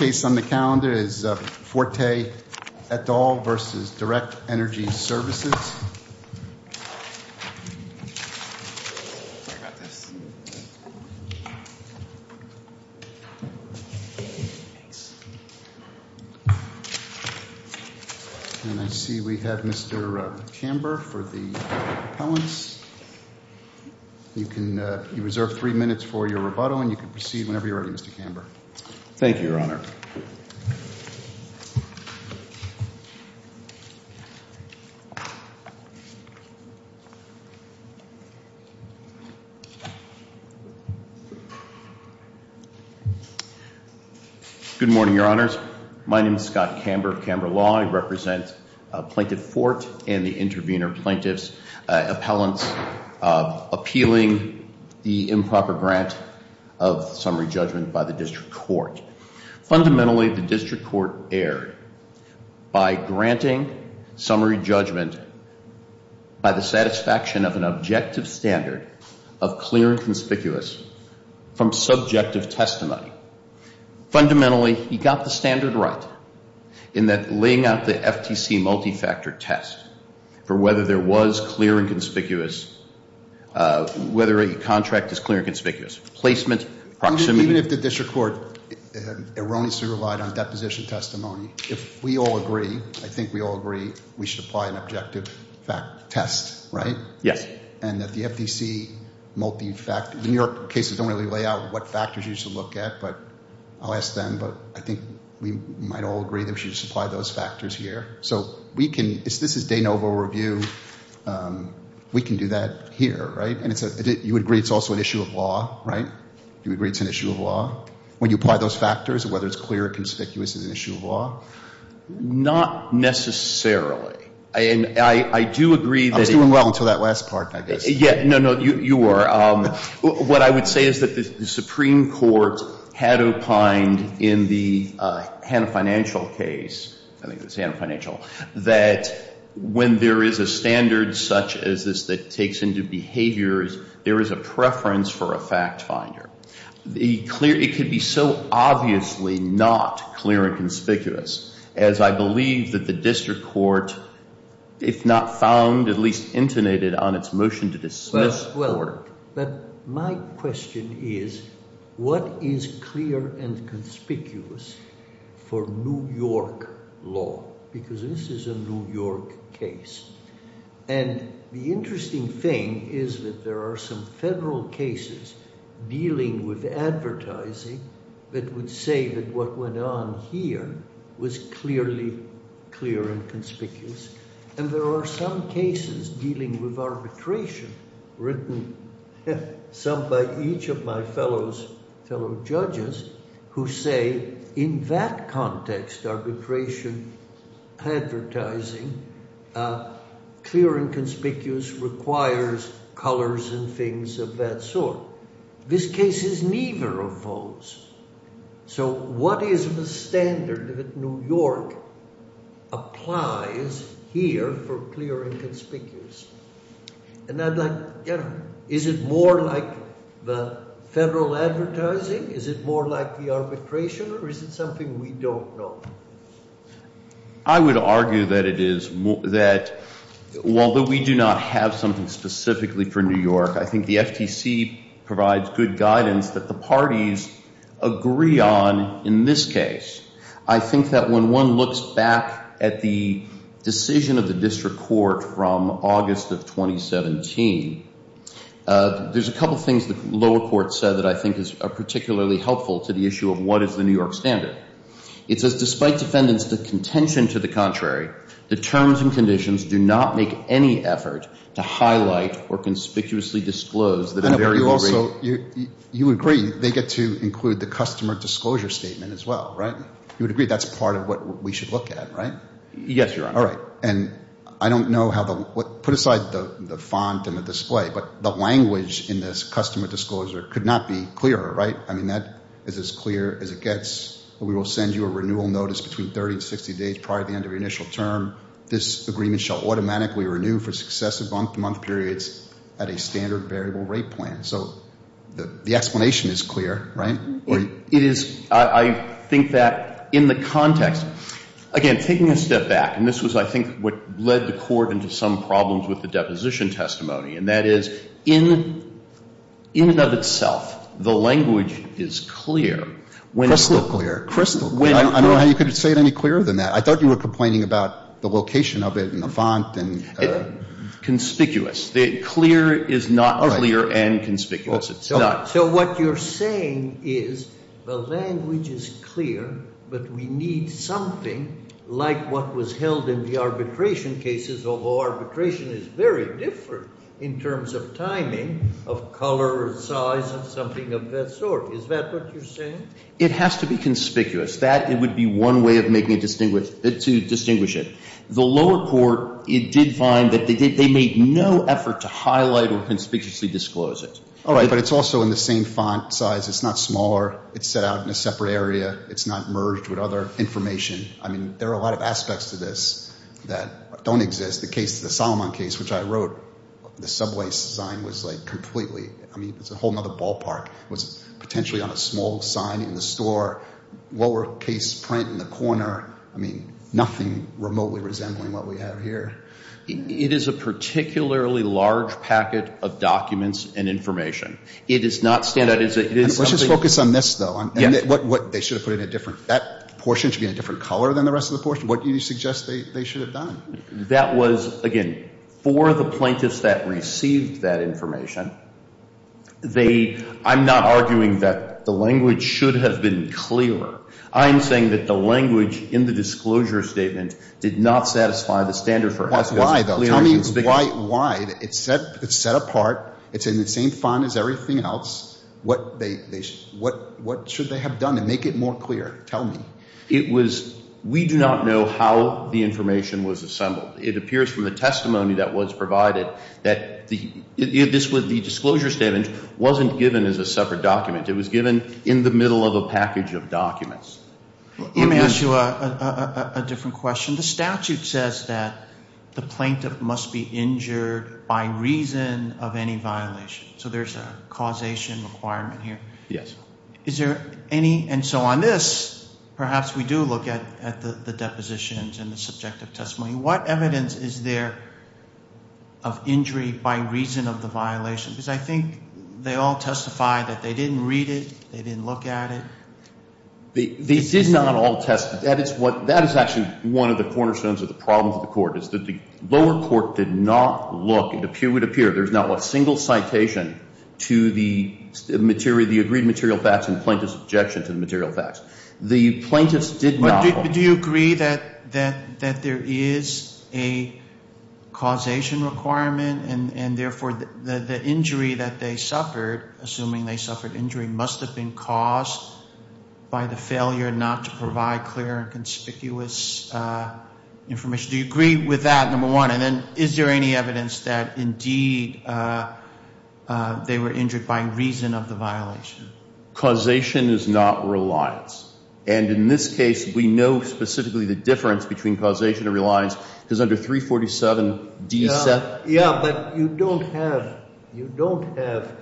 Forte et al. v. Direct Energy Services, LLC Good morning, Your Honors. My name is Scott Camber of Camber Law. I represent Plaintiff Forte and the intervener plaintiffs, appellants appealing the improper grant of summary judgment by the district court. Fundamentally, the district court erred by granting summary judgment by the satisfaction of an objective standard of clear and conspicuous from subjective testimony. Fundamentally, he got the standard right in that laying out the FTC multi-factor test for whether there was clear and conspicuous, whether a contract is clear and conspicuous, placement, proximity. Even if the district court erroneously relied on deposition testimony, if we all agree, I think we all agree, we should apply an objective test, right? Yes. And that the FTC multi-factor, the New York cases don't really lay out what factors you should look at, but I'll ask them, but I think we might all agree that we should supply those factors here. So we can, this is de novo review, we can do that here, right? And you agree it's also an issue of law, right? You agree it's an issue of law? When you apply those factors, whether it's clear or conspicuous is an issue of law? Not necessarily. I do agree that... I was doing well until that last part, I guess. No, no, you were. What I would say is that the Supreme Court had opined in the Hanna Financial case, I think it was Hanna Financial, that when there is a standard such as this that takes into account the behavior, there is a preference for a fact finder. It could be so obviously not clear and conspicuous, as I believe that the district court, if not found, at least intonated on its motion to dismiss the court. But my question is, what is clear and conspicuous for New York law? Because this is a New York case. And the interesting thing is that there are some federal cases dealing with advertising that would say that what went on here was clearly clear and conspicuous. And there are some cases dealing with arbitration written some by each of my fellow judges who say in that context, arbitration, advertising, clear and conspicuous requires colors and things of that sort. This case is neither of those. So what is the standard that New York applies here for clear and conspicuous? And I'd like... Is it more like the federal advertising? Is it more like the arbitration? Or is it something we don't know? I would argue that it is, that although we do not have something specifically for New York, I think the FTC provides good guidance that the parties agree on in this case. I think that when one looks back at the decision of the district court from August of 2017, there's a couple of things the lower court said that I think are particularly helpful to the issue of what is the New York standard. It says, despite defendants' contention to the contrary, the terms and conditions do not make any effort to highlight or conspicuously disclose that a variable rate... You agree they get to include the customer disclosure statement as well, right? You would agree that's part of what we should look at, right? Yes, Your Honor. All right. And I don't know how the... Put aside the font and the display, but the language in this customer disclosure could not be clearer, right? I mean, that is as clear as it gets. We will send you a renewal notice between 30 and 60 days prior to the end of your initial term. This agreement shall automatically renew for successive month-to-month periods at a standard variable rate plan. So the explanation is clear, right? It is. I think that in the context... Again, taking a step back, and this was, I think, what led the court into some problems with the deposition testimony, and that is in and of itself, the language is clear. Crystal clear. Crystal clear. I don't know how you could say it any clearer than that. I thought you were complaining about the location of it and the font and... Conspicuous. Clear is not clear and conspicuous. It's not. So what you're saying is the language is clear, but we need something like what was held in the arbitration cases, although arbitration is very different in terms of timing, of color and size and something of that sort. Is that what you're saying? It has to be conspicuous. That, it would be one way of making it distinguish... To distinguish it. The lower court, it did find that they made no effort to highlight or conspicuously disclose it. All right, but it's also in the same font size. It's not smaller. It's set out in a separate area. It's not merged with other information. I mean, there are a lot of aspects to this that don't exist. The case, the Solomon case, which I wrote, the subway sign was like completely... I mean, it's a whole nother ballpark. It was potentially on a small sign in the store, lower case print in the corner. I mean, nothing remotely resembling what we have here. It is a particularly large packet of documents and information. It is not standard. It is something... Let's just focus on this, though. Yes. What they should have put in a different... That portion should be in a different color than the rest of the portion. What do you suggest they should have done? That was, again, for the plaintiffs that received that information, they... I'm not arguing that the language should have been clearer. I'm saying that the language in the disclosure statement did not satisfy the standard for... Why, though? Tell me why. It's set apart. It's in the same font as everything else. What should they have done to make it more clear? Tell me. It was... We do not know how the information was assembled. It appears from the testimony that was provided that the disclosure statement wasn't given as a separate document. It was given in the middle of a package of documents. Let me ask you a different question. The statute says that the plaintiff must be injured by reason of any violation. So there's a causation requirement here. Yes. Is there any... And so on this, perhaps we do look at the depositions and the subjective testimony. What evidence is there of injury by reason of the violation? Because I think they all testify that they didn't read it, they didn't look at it. They did not all testify. That is what... That is actually one of the cornerstones of the problems of the court, is that the lower court did not look. It would appear there's not a single citation to the agreed material facts and plaintiff's objection to the material facts. The plaintiffs did not look. Do you agree that there is a causation requirement and therefore the injury that they suffered, assuming they suffered injury, must have been caused by the failure not to provide clear and conspicuous information? Do you agree with that, number one? And then is there any evidence that indeed they were injured by reason of the violation? Causation is not reliance. And in this case, we know specifically the difference between causation and reliance, because under 347 D. 7... Yeah, but you don't have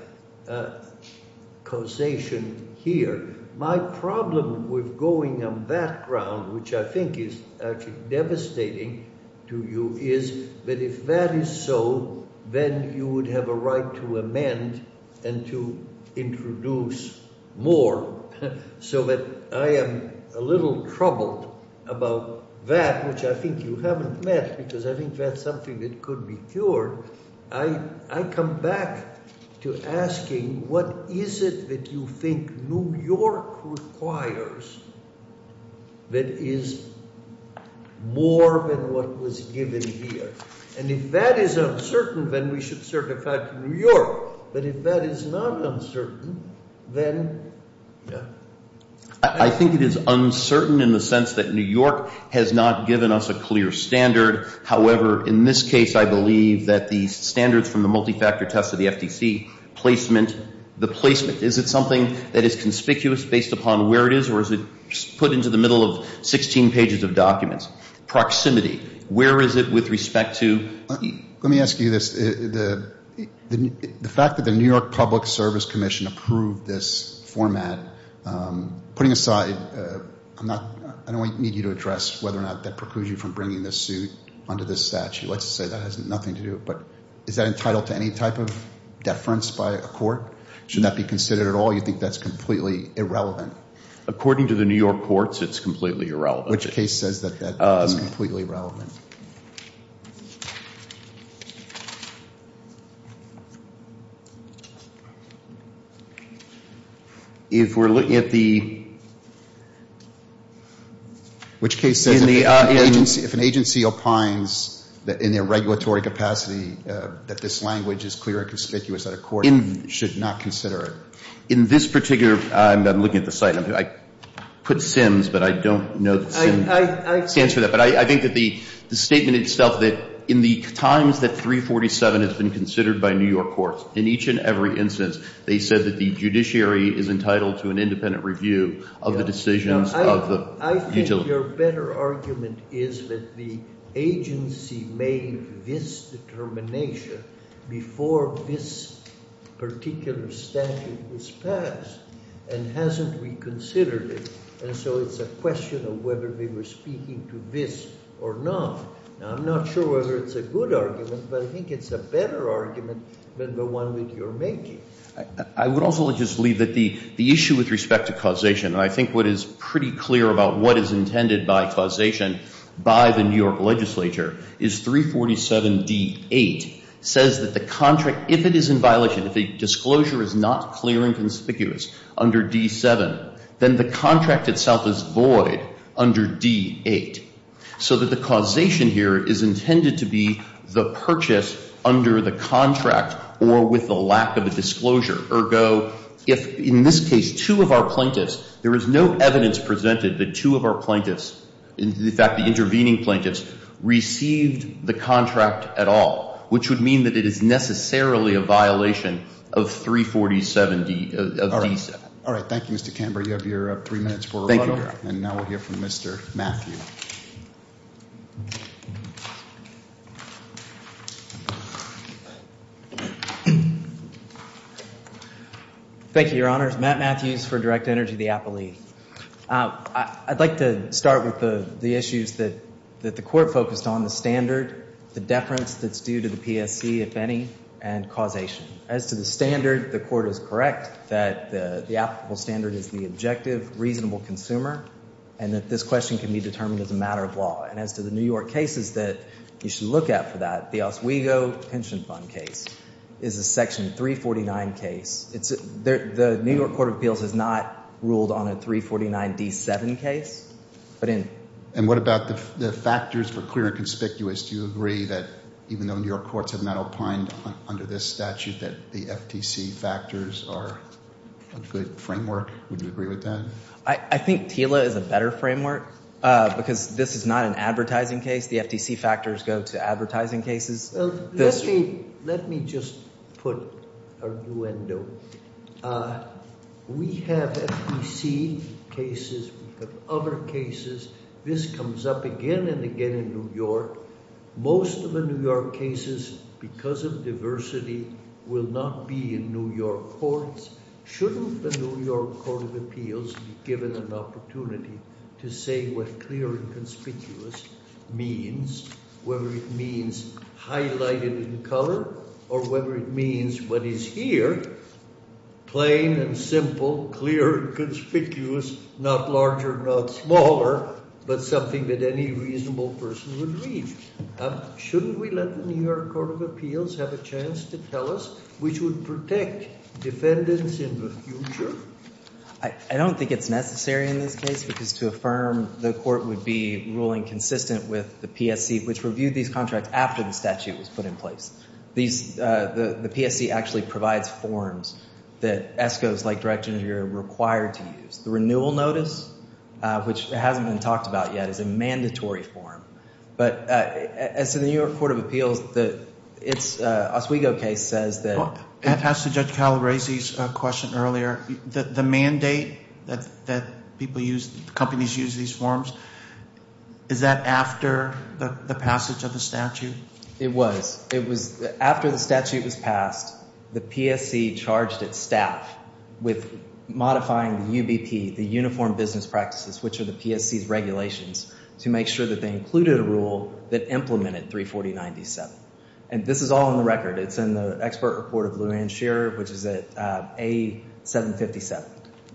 causation here. My problem with going on that ground, which I think is actually devastating to you, is that if that is so, then you would have a right to amend and to introduce more, so that I am a little troubled about that, which I think you haven't met, because I think that's something that could be cured. I come back to asking, what is it that you think New York requires that is more than what was given here? And if that is uncertain, then we should certify it to New York. But if that is not uncertain, then, yeah. I think it is uncertain in the sense that New York has not given us a clear standard. However, in this case, I believe that the standards from the multi-factor test of the FTC placement, the placement, is it something that is conspicuous based upon where it is, or is it put into the middle of 16 pages of documents? Proximity, where is it with respect to... Let me ask you this. The fact that the New York Public Service Commission approved this format, putting aside, I don't need you to address whether or not that precludes you from bringing this suit under this statute. Let's say that has nothing to do with it. Is that entitled to any type of deference by a court? Should that be considered at all? You think that's completely irrelevant? According to the New York courts, it's completely irrelevant. Which case says that that is completely relevant? If we're looking at the... Which case says that if an agency opines in their regulatory capacity that this language is clear and conspicuous, that a court should not consider it? In this particular... I'm looking at the site. I put SIMS, but I don't know the... To answer that, but I think that the statement itself that in the times that 347 has been considered by New York courts, in each and every instance, they said that the judiciary is entitled to an independent review of the decisions of the... I think your better argument is that the agency made this determination before this particular statute was passed and hasn't reconsidered it. And so it's a question of whether they were speaking to this or not. Now, I'm not sure whether it's a good argument, but I think it's a better argument than the one that you're making. I would also just leave that the issue with respect to causation, and I think what is pretty clear about what is intended by causation by the New York legislature, is 347D8 says that the contract, if it is in violation, if a disclosure is not clear and conspicuous under D7, then the contract itself is void under D8. So that the causation here is intended to be the purchase under the contract or with the lack of a disclosure. Ergo, if in this case, two of our plaintiffs, there is no evidence presented that two of our plaintiffs, in fact, the intervening plaintiffs, received the contract at all, which would mean that it is necessarily a violation of 347D7. All right. Thank you, Mr. Camber. You have your three minutes for rebuttal. And now we'll hear from Mr. Matthew. Thank you, your honors. Matt Matthews for Direct Energy of the Appellee. I'd like to start with the issues that the court focused on. The standard, the deference that's due to the PSC, if any, and causation. As to the standard, the court is correct that the applicable standard is the objective, reasonable consumer, and that this question can be determined as a matter of law. And as to the New York cases that you should look at for that, the Oswego Pension Fund case is a section 349 case. The New York Court of Appeals has not ruled on a 349D7 case. And what about the factors for clear and conspicuous? Do you agree that, even though New York courts have not opined under this statute, that the FTC factors are a good framework? Would you agree with that? I think TILA is a better framework because this is not an advertising case. The FTC factors go to advertising cases. Let me just put an arduendo. We have FTC cases. We have other cases. This comes up again and again in New York. Most of the New York cases, because of diversity, will not be in New York courts. Shouldn't the New York Court of Appeals be given an opportunity to say what clear and conspicuous is highlighted in color, or whether it means what is here, plain and simple, clear and conspicuous, not larger, not smaller, but something that any reasonable person would read? Shouldn't we let the New York Court of Appeals have a chance to tell us which would protect defendants in the future? I don't think it's necessary in this case, because to affirm the court would be ruling consistent with the PSC, which reviewed these contracts after the statute was put in place. The PSC actually provides forms that ESCOs, like Directors of the Interior, are required to use. The renewal notice, which hasn't been talked about yet, is a mandatory form. But as to the New York Court of Appeals, its Oswego case says that— Well, it has to do with Judge Calaresi's question earlier. The mandate that companies use these forms, is that after the passage of the statute? It was. It was after the statute was passed, the PSC charged its staff with modifying the UBP, the Uniform Business Practices, which are the PSC's regulations, to make sure that they included a rule that implemented 340.97. And this is all in the record. It's in the expert report of Lou Anne Shearer, which is at A757.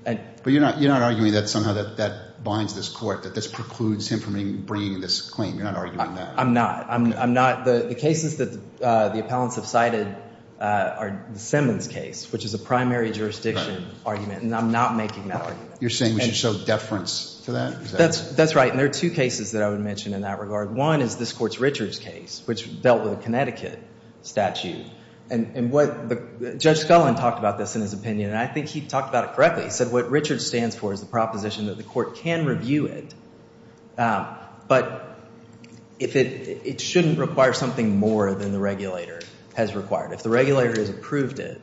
But you're not arguing that somehow that binds this court, that this precludes him from bringing this claim? You're not arguing that? I'm not. I'm not. The cases that the appellants have cited are the Simmons case, which is a primary jurisdiction argument. And I'm not making that argument. You're saying we should show deference to that? That's right. And there are two cases that I would mention in that regard. One is this court's Richards case, which dealt with a Connecticut statute. And Judge Scullin talked about this in his opinion. And I think he talked about it correctly. He said what Richards stands for is the proposition that the court can review it, but it shouldn't require something more than the regulator has required. If the regulator has approved it,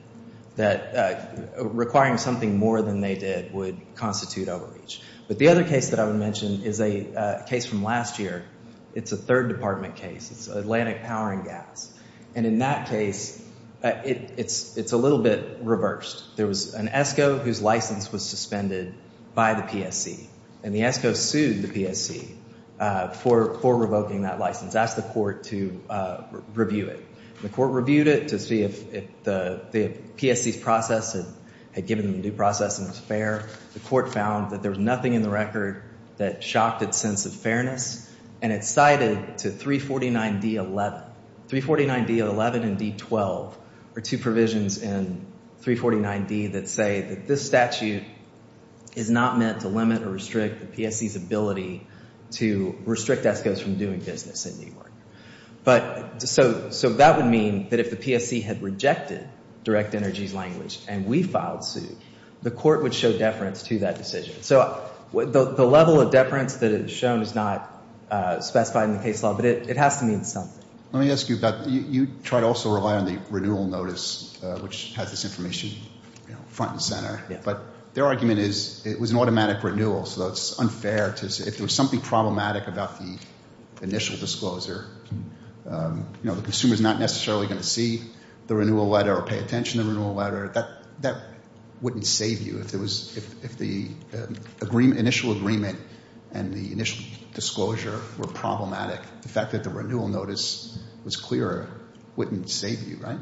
requiring something more than they did would constitute overreach. But the other case that I would mention is a case from last year. It's a third department case. It's Atlantic Power and Gas. And in that case, it's a little bit reversed. There was an ESCO whose license was suspended by the PSC. And the ESCO sued the PSC for revoking that license, asked the court to review it. The court reviewed it to see if the PSC's process had given them due process and was fair. The court found that there was nothing in the record that shocked its sense of fairness. And it cited to 349D11. 349D11 and D12 are two provisions in 349D that say that this statute is not meant to limit or restrict the PSC's ability to restrict ESCOs from doing business in New York. So that would mean that if the PSC had rejected Direct Energy's language and we filed suit, the court would show deference to that decision. So the level of deference that is shown is not specified in the case law. But it has to mean something. Let me ask you about, you try to also rely on the renewal notice, which has this information front and center. But their argument is it was an automatic renewal. So it's unfair to say, if there was something problematic about the initial disclosure, you know, the consumer's not necessarily going to see the renewal letter or pay attention to the renewal letter, that wouldn't save you if the initial agreement and the initial disclosure were problematic. The fact that the renewal notice was clear wouldn't save you, right?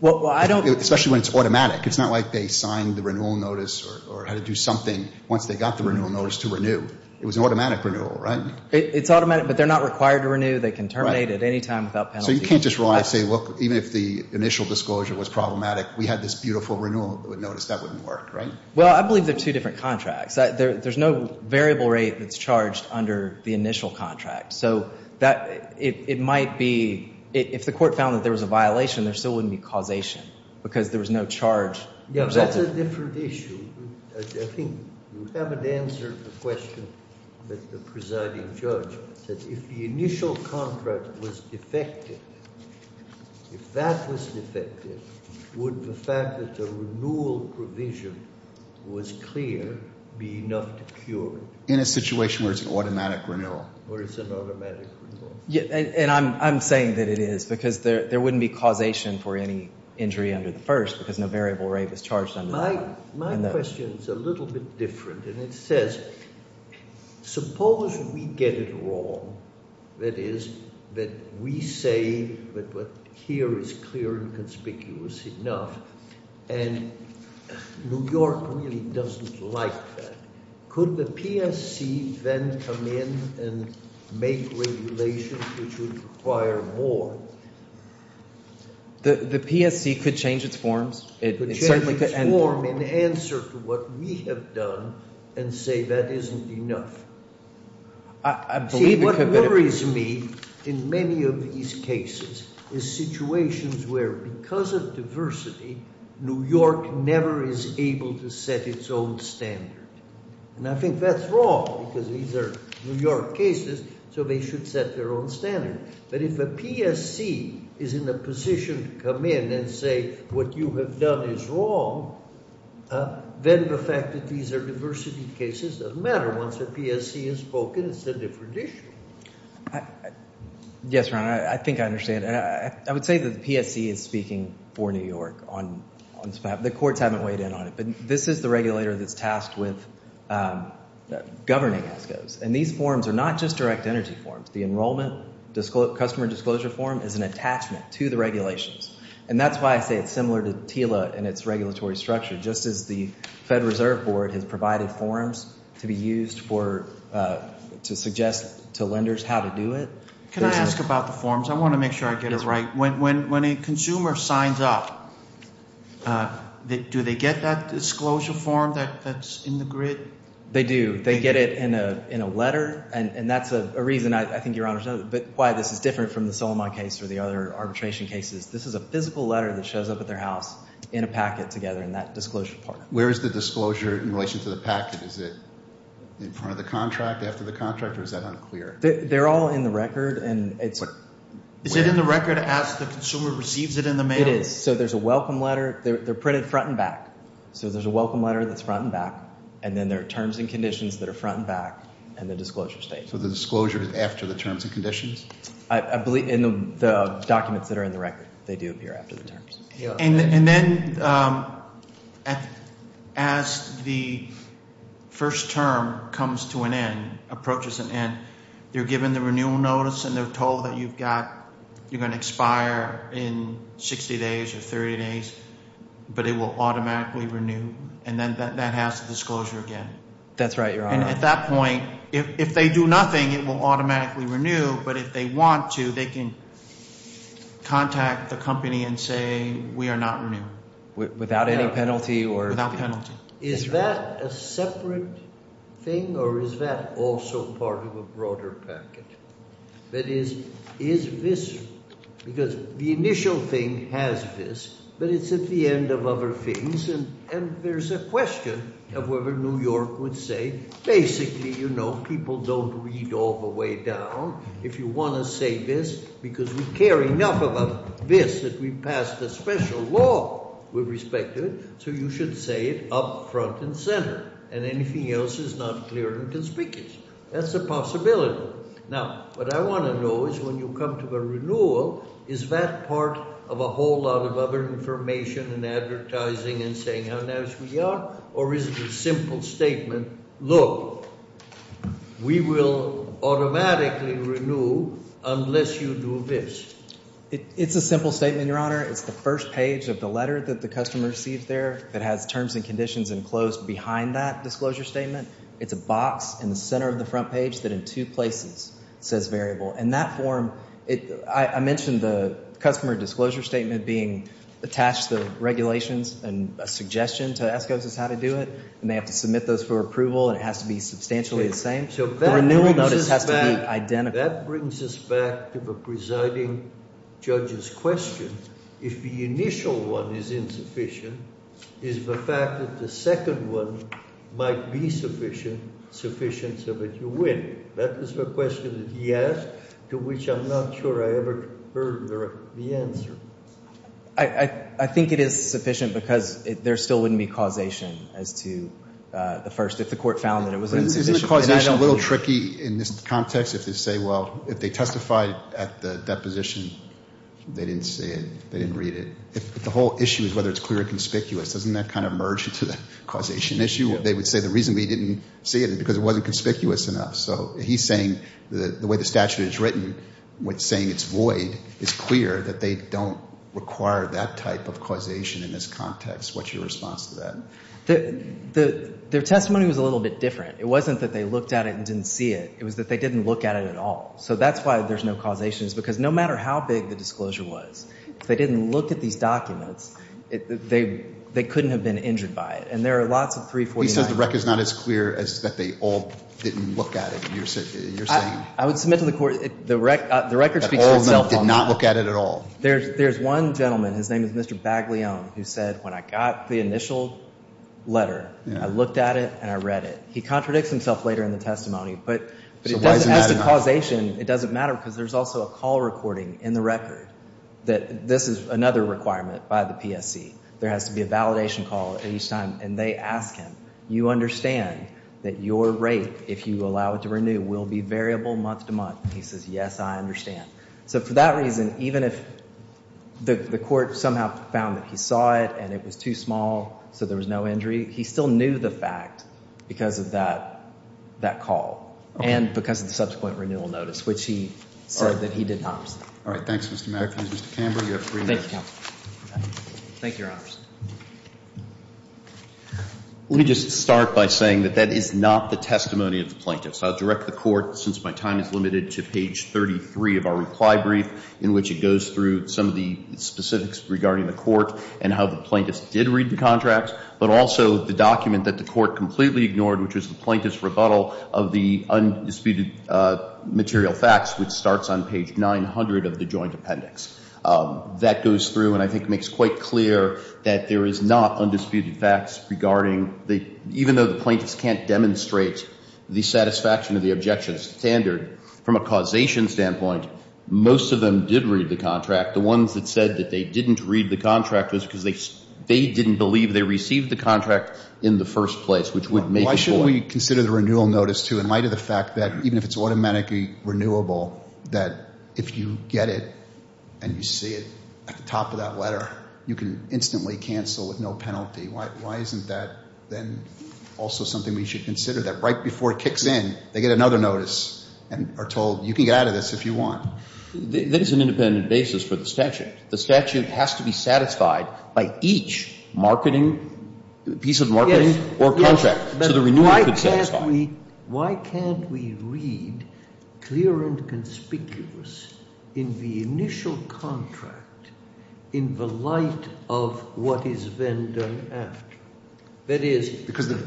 Well, I don't... Especially when it's automatic. It's not like they signed the renewal notice or had to do something once they got the renewal notice to renew. It was an automatic renewal, right? It's automatic, but they're not required to renew. They can terminate at any time without penalty. So you can't just rely and say, look, even if the initial disclosure was problematic, we had this beautiful renewal notice, that wouldn't work, right? Well, I believe they're two different contracts. There's no variable rate that's charged under the initial contract. So it might be, if the court found that there was a violation, there still wouldn't be causation because there was no charge. Yeah, that's a different issue. I think you haven't answered the question that the presiding judge said. If the initial contract was defective, if that was defective, would the fact that the renewal provision was clear be enough to cure it? In a situation where it's an automatic renewal. Where it's an automatic renewal. Yeah, and I'm saying that it is because there wouldn't be causation for any injury under the first because no variable rate was charged under that. My question is a little bit different. And it says, suppose we get it wrong. That is, that we say that what's here is clear and conspicuous enough. And New York really doesn't like that. Could the PSC then come in and make regulations which would require more? The PSC could change its forms. It could change its form in answer to what we have done and say that isn't enough. I believe- See, what worries me in many of these cases is situations where because of diversity, New York never is able to set its own standard. And I think that's wrong because these are New York cases, so they should set their own standard. But if a PSC is in a position to come in and say what you have done is wrong, then the fact that these are diversity cases doesn't matter. Once a PSC has spoken, it's a different issue. Yes, Ron, I think I understand. And I would say that the PSC is speaking for New York. The courts haven't weighed in on it. But this is the regulator that's tasked with governing ESCOs. And these forms are not just direct energy forms. The enrollment customer disclosure form is an attachment to the regulations. And that's why I say it's similar to TILA and its regulatory structure. Just as the Fed Reserve Board has provided forms to be used for to suggest to lenders how to do it- Can I ask about the forms? I want to make sure I get it right. When a consumer signs up, do they get that disclosure form that's in the grid? They do. They get it in a letter. And that's a reason, I think, Your Honor, why this is different from the Solomon case or the other arbitration cases. This is a physical letter that shows up at their house in a packet together in that disclosure part. Where is the disclosure in relation to the packet? Is it in front of the contract, after the contract? Or is that unclear? They're all in the record. Is it in the record as the consumer receives it in the mail? It is. So there's a welcome letter. They're printed front and back. So there's a welcome letter that's front and back. And then there are terms and conditions that are front and back. And the disclosure states. So the disclosure is after the terms and conditions? I believe in the documents that are in the record, they do appear after the terms. And then as the first term comes to an end, approaches an end, they're given the renewal notice. And they're told that you're going to expire in 60 days or 30 days. But it will automatically renew. And then that has the disclosure again. That's right, Your Honor. And at that point, if they do nothing, it will automatically renew. But if they want to, they can contact the company and say, we are not renewing. Without any penalty or? Without penalty. Is that a separate thing? Or is that also part of a broader packet? That is, is this, because the initial thing has this. But it's at the end of other things. And there's a question of whether New York would say, basically, you know, people don't read all the way down. If you want to say this, because we care enough about this that we passed a special law with respect to it. So you should say it up front and center. And anything else is not clear and conspicuous. That's a possibility. Now, what I want to know is when you come to the renewal, is that part of a whole lot of other information and advertising and saying how nice we are? Or is it a simple statement? Look, we will automatically renew unless you do this. It's a simple statement, Your Honor. It's the first page of the letter that the customer received there that has terms and conditions enclosed behind that disclosure statement. It's a box in the center of the front page that in two places says variable. And that form, I mentioned the customer disclosure statement being attached to the regulations and a suggestion to ask us how to do it. And they have to submit those for approval. And it has to be substantially the same. So the renewal notice has to be identical. That brings us back to the presiding judge's question. If the initial one is insufficient, is the fact that the second one might be sufficient, sufficient so that you win? That is the question that he asked to which I'm not sure I ever heard the answer. I think it is sufficient because there still wouldn't be causation as to the first, if the court found that it was insufficient. Isn't the causation a little tricky in this context? If they say, well, if they testified at the deposition, they didn't say it. They didn't read it. The whole issue is whether it's clear or conspicuous. Doesn't that kind of merge into the causation issue? They would say the reason we didn't see it is because it wasn't conspicuous enough. So he's saying the way the statute is written, saying it's void, is clear that they don't require that type of causation in this context. What's your response to that? Their testimony was a little bit different. It wasn't that they looked at it and didn't see it. It was that they didn't look at it at all. So that's why there's no causation is because no matter how big the disclosure was, if they didn't look at these documents, they couldn't have been injured by it. And there are lots of 349s. The record is not as clear as that they all didn't look at it, you're saying. I would submit to the court, the record speaks for itself on that. But all of them did not look at it at all. There's one gentleman. His name is Mr. Baglione, who said, when I got the initial letter, I looked at it and I read it. He contradicts himself later in the testimony. But as to causation, it doesn't matter because there's also a call recording in the record that this is another requirement by the PSC. There has to be a validation call each time. And they ask him, you understand that your rate, if you allow it to renew, will be variable month to month? He says, yes, I understand. So for that reason, even if the court somehow found that he saw it and it was too small so there was no injury, he still knew the fact because of that call and because of the subsequent renewal notice, which he said that he did not. All right. Thanks, Mr. Matthews. Mr. Camber, you have three minutes. Thank you, counsel. Thank you, Your Honors. Let me just start by saying that that is not the testimony of the plaintiff. So I'll direct the court, since my time is limited, to page 33 of our reply brief, in which it goes through some of the specifics regarding the court and how the plaintiff did read the contract, but also the document that the court completely ignored, which was the plaintiff's rebuttal of the undisputed material facts, which starts on page 900 of the joint appendix. That goes through and I think makes quite clear that there is not undisputed facts regarding the, even though the plaintiffs can't demonstrate the satisfaction of the objection standard, from a causation standpoint, most of them did read the contract. The ones that said that they didn't read the contract was because they didn't believe they received the contract in the first place, which would make a point. Why shouldn't we consider the renewal notice, too, in light of the fact that even if it's automatically renewable, that if you get it and you see it at the top of that letter, you can instantly cancel with no penalty? Why isn't that then also something we should consider, that right before it kicks in, they get another notice and are told, you can get out of this if you want? That is an independent basis for the statute. The statute has to be satisfied by each piece of marketing or contract. But why can't we read clear and conspicuous in the initial contract in the light of what is then done after? That is,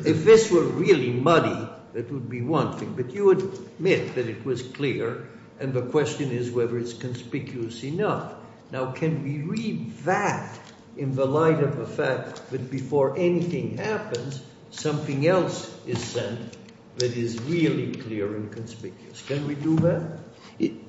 if this were really muddy, that would be one thing. But you would admit that it was clear and the question is whether it's conspicuous enough. Now, can we read that in the light of the fact that before anything happens, something else is sent that is really clear and conspicuous? Can we do that?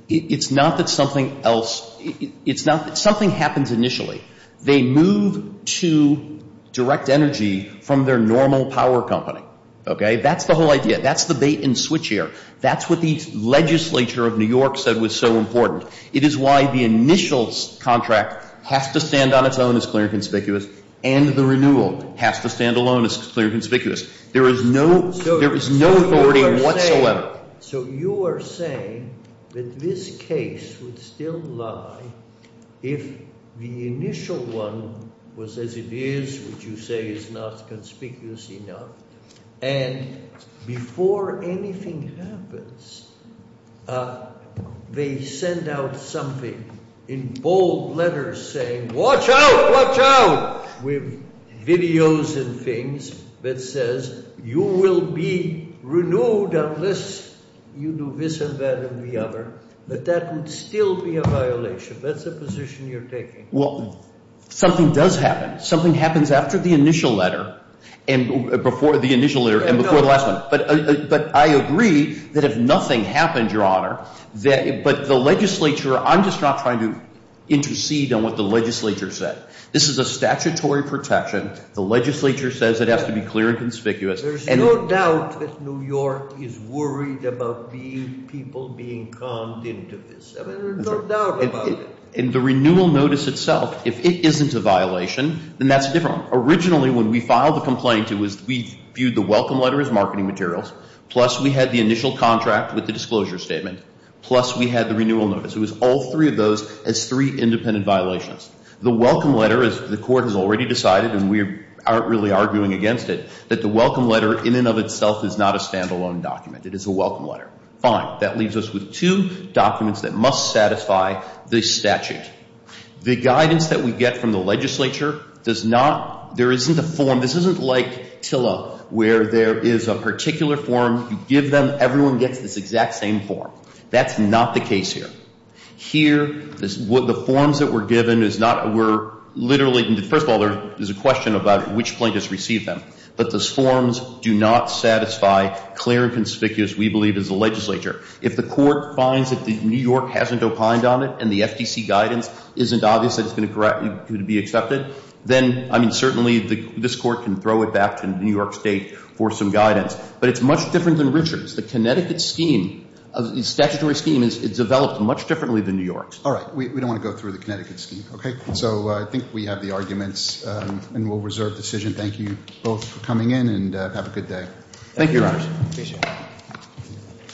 It's not that something else, it's not, something happens initially. They move to direct energy from their normal power company, okay? That's the whole idea. That's the bait and switch here. That's what the legislature of New York said was so important. It is why the initial contract has to stand on its own as clear and conspicuous and the renewal has to stand alone as clear and conspicuous. There is no authority whatsoever. So you are saying that this case would still lie if the initial one was as it is, which you say is not conspicuous enough, and before anything happens, they send out something in bold letters saying, watch out, watch out, with videos and things that says you will be renewed unless you do this and that and the other. But that would still be a violation. That's a position you're taking. Well, something does happen. Something happens after the initial letter and before the initial letter and before the last one. But I agree that if nothing happened, Your Honor, but the legislature, I'm just not trying to intercede on what the legislature said. This is a statutory protection. The legislature says it has to be clear and conspicuous. There's no doubt that New York is worried about people being conned into this. I mean, there's no doubt about it. And the renewal notice itself, if it isn't a violation, then that's different. Originally, when we filed the complaint, we viewed the welcome letter as marketing materials, plus we had the initial contract with the disclosure statement, plus we had the renewal notice. It was all three of those as three independent violations. The welcome letter, as the court has already decided, and we aren't really arguing against it, that the welcome letter in and of itself is not a standalone document. It is a welcome letter. Fine. That leaves us with two documents that must satisfy this statute. The guidance that we get from the legislature does not, there isn't a form, this isn't like TILA, where there is a particular form, you give them, everyone gets this exact same form. That's not the case here. Here, the forms that were given is not, were literally, first of all, there's a question about which plaintiffs received them. But those forms do not satisfy clear and conspicuous, we believe, as the legislature. If the court finds that New York hasn't opined on it and the FTC guidance isn't obvious that it's going to be accepted, then, I mean, certainly, this court can throw it back to New York State for some guidance. But it's much different than Richards. The Connecticut scheme, the statutory scheme, is developed much differently than New York's. All right. We don't want to go through the Connecticut scheme, okay? So I think we have the arguments, and we'll reserve decision. Thank you both for coming in, and have a good day. Thank you, Your Honor. Appreciate it.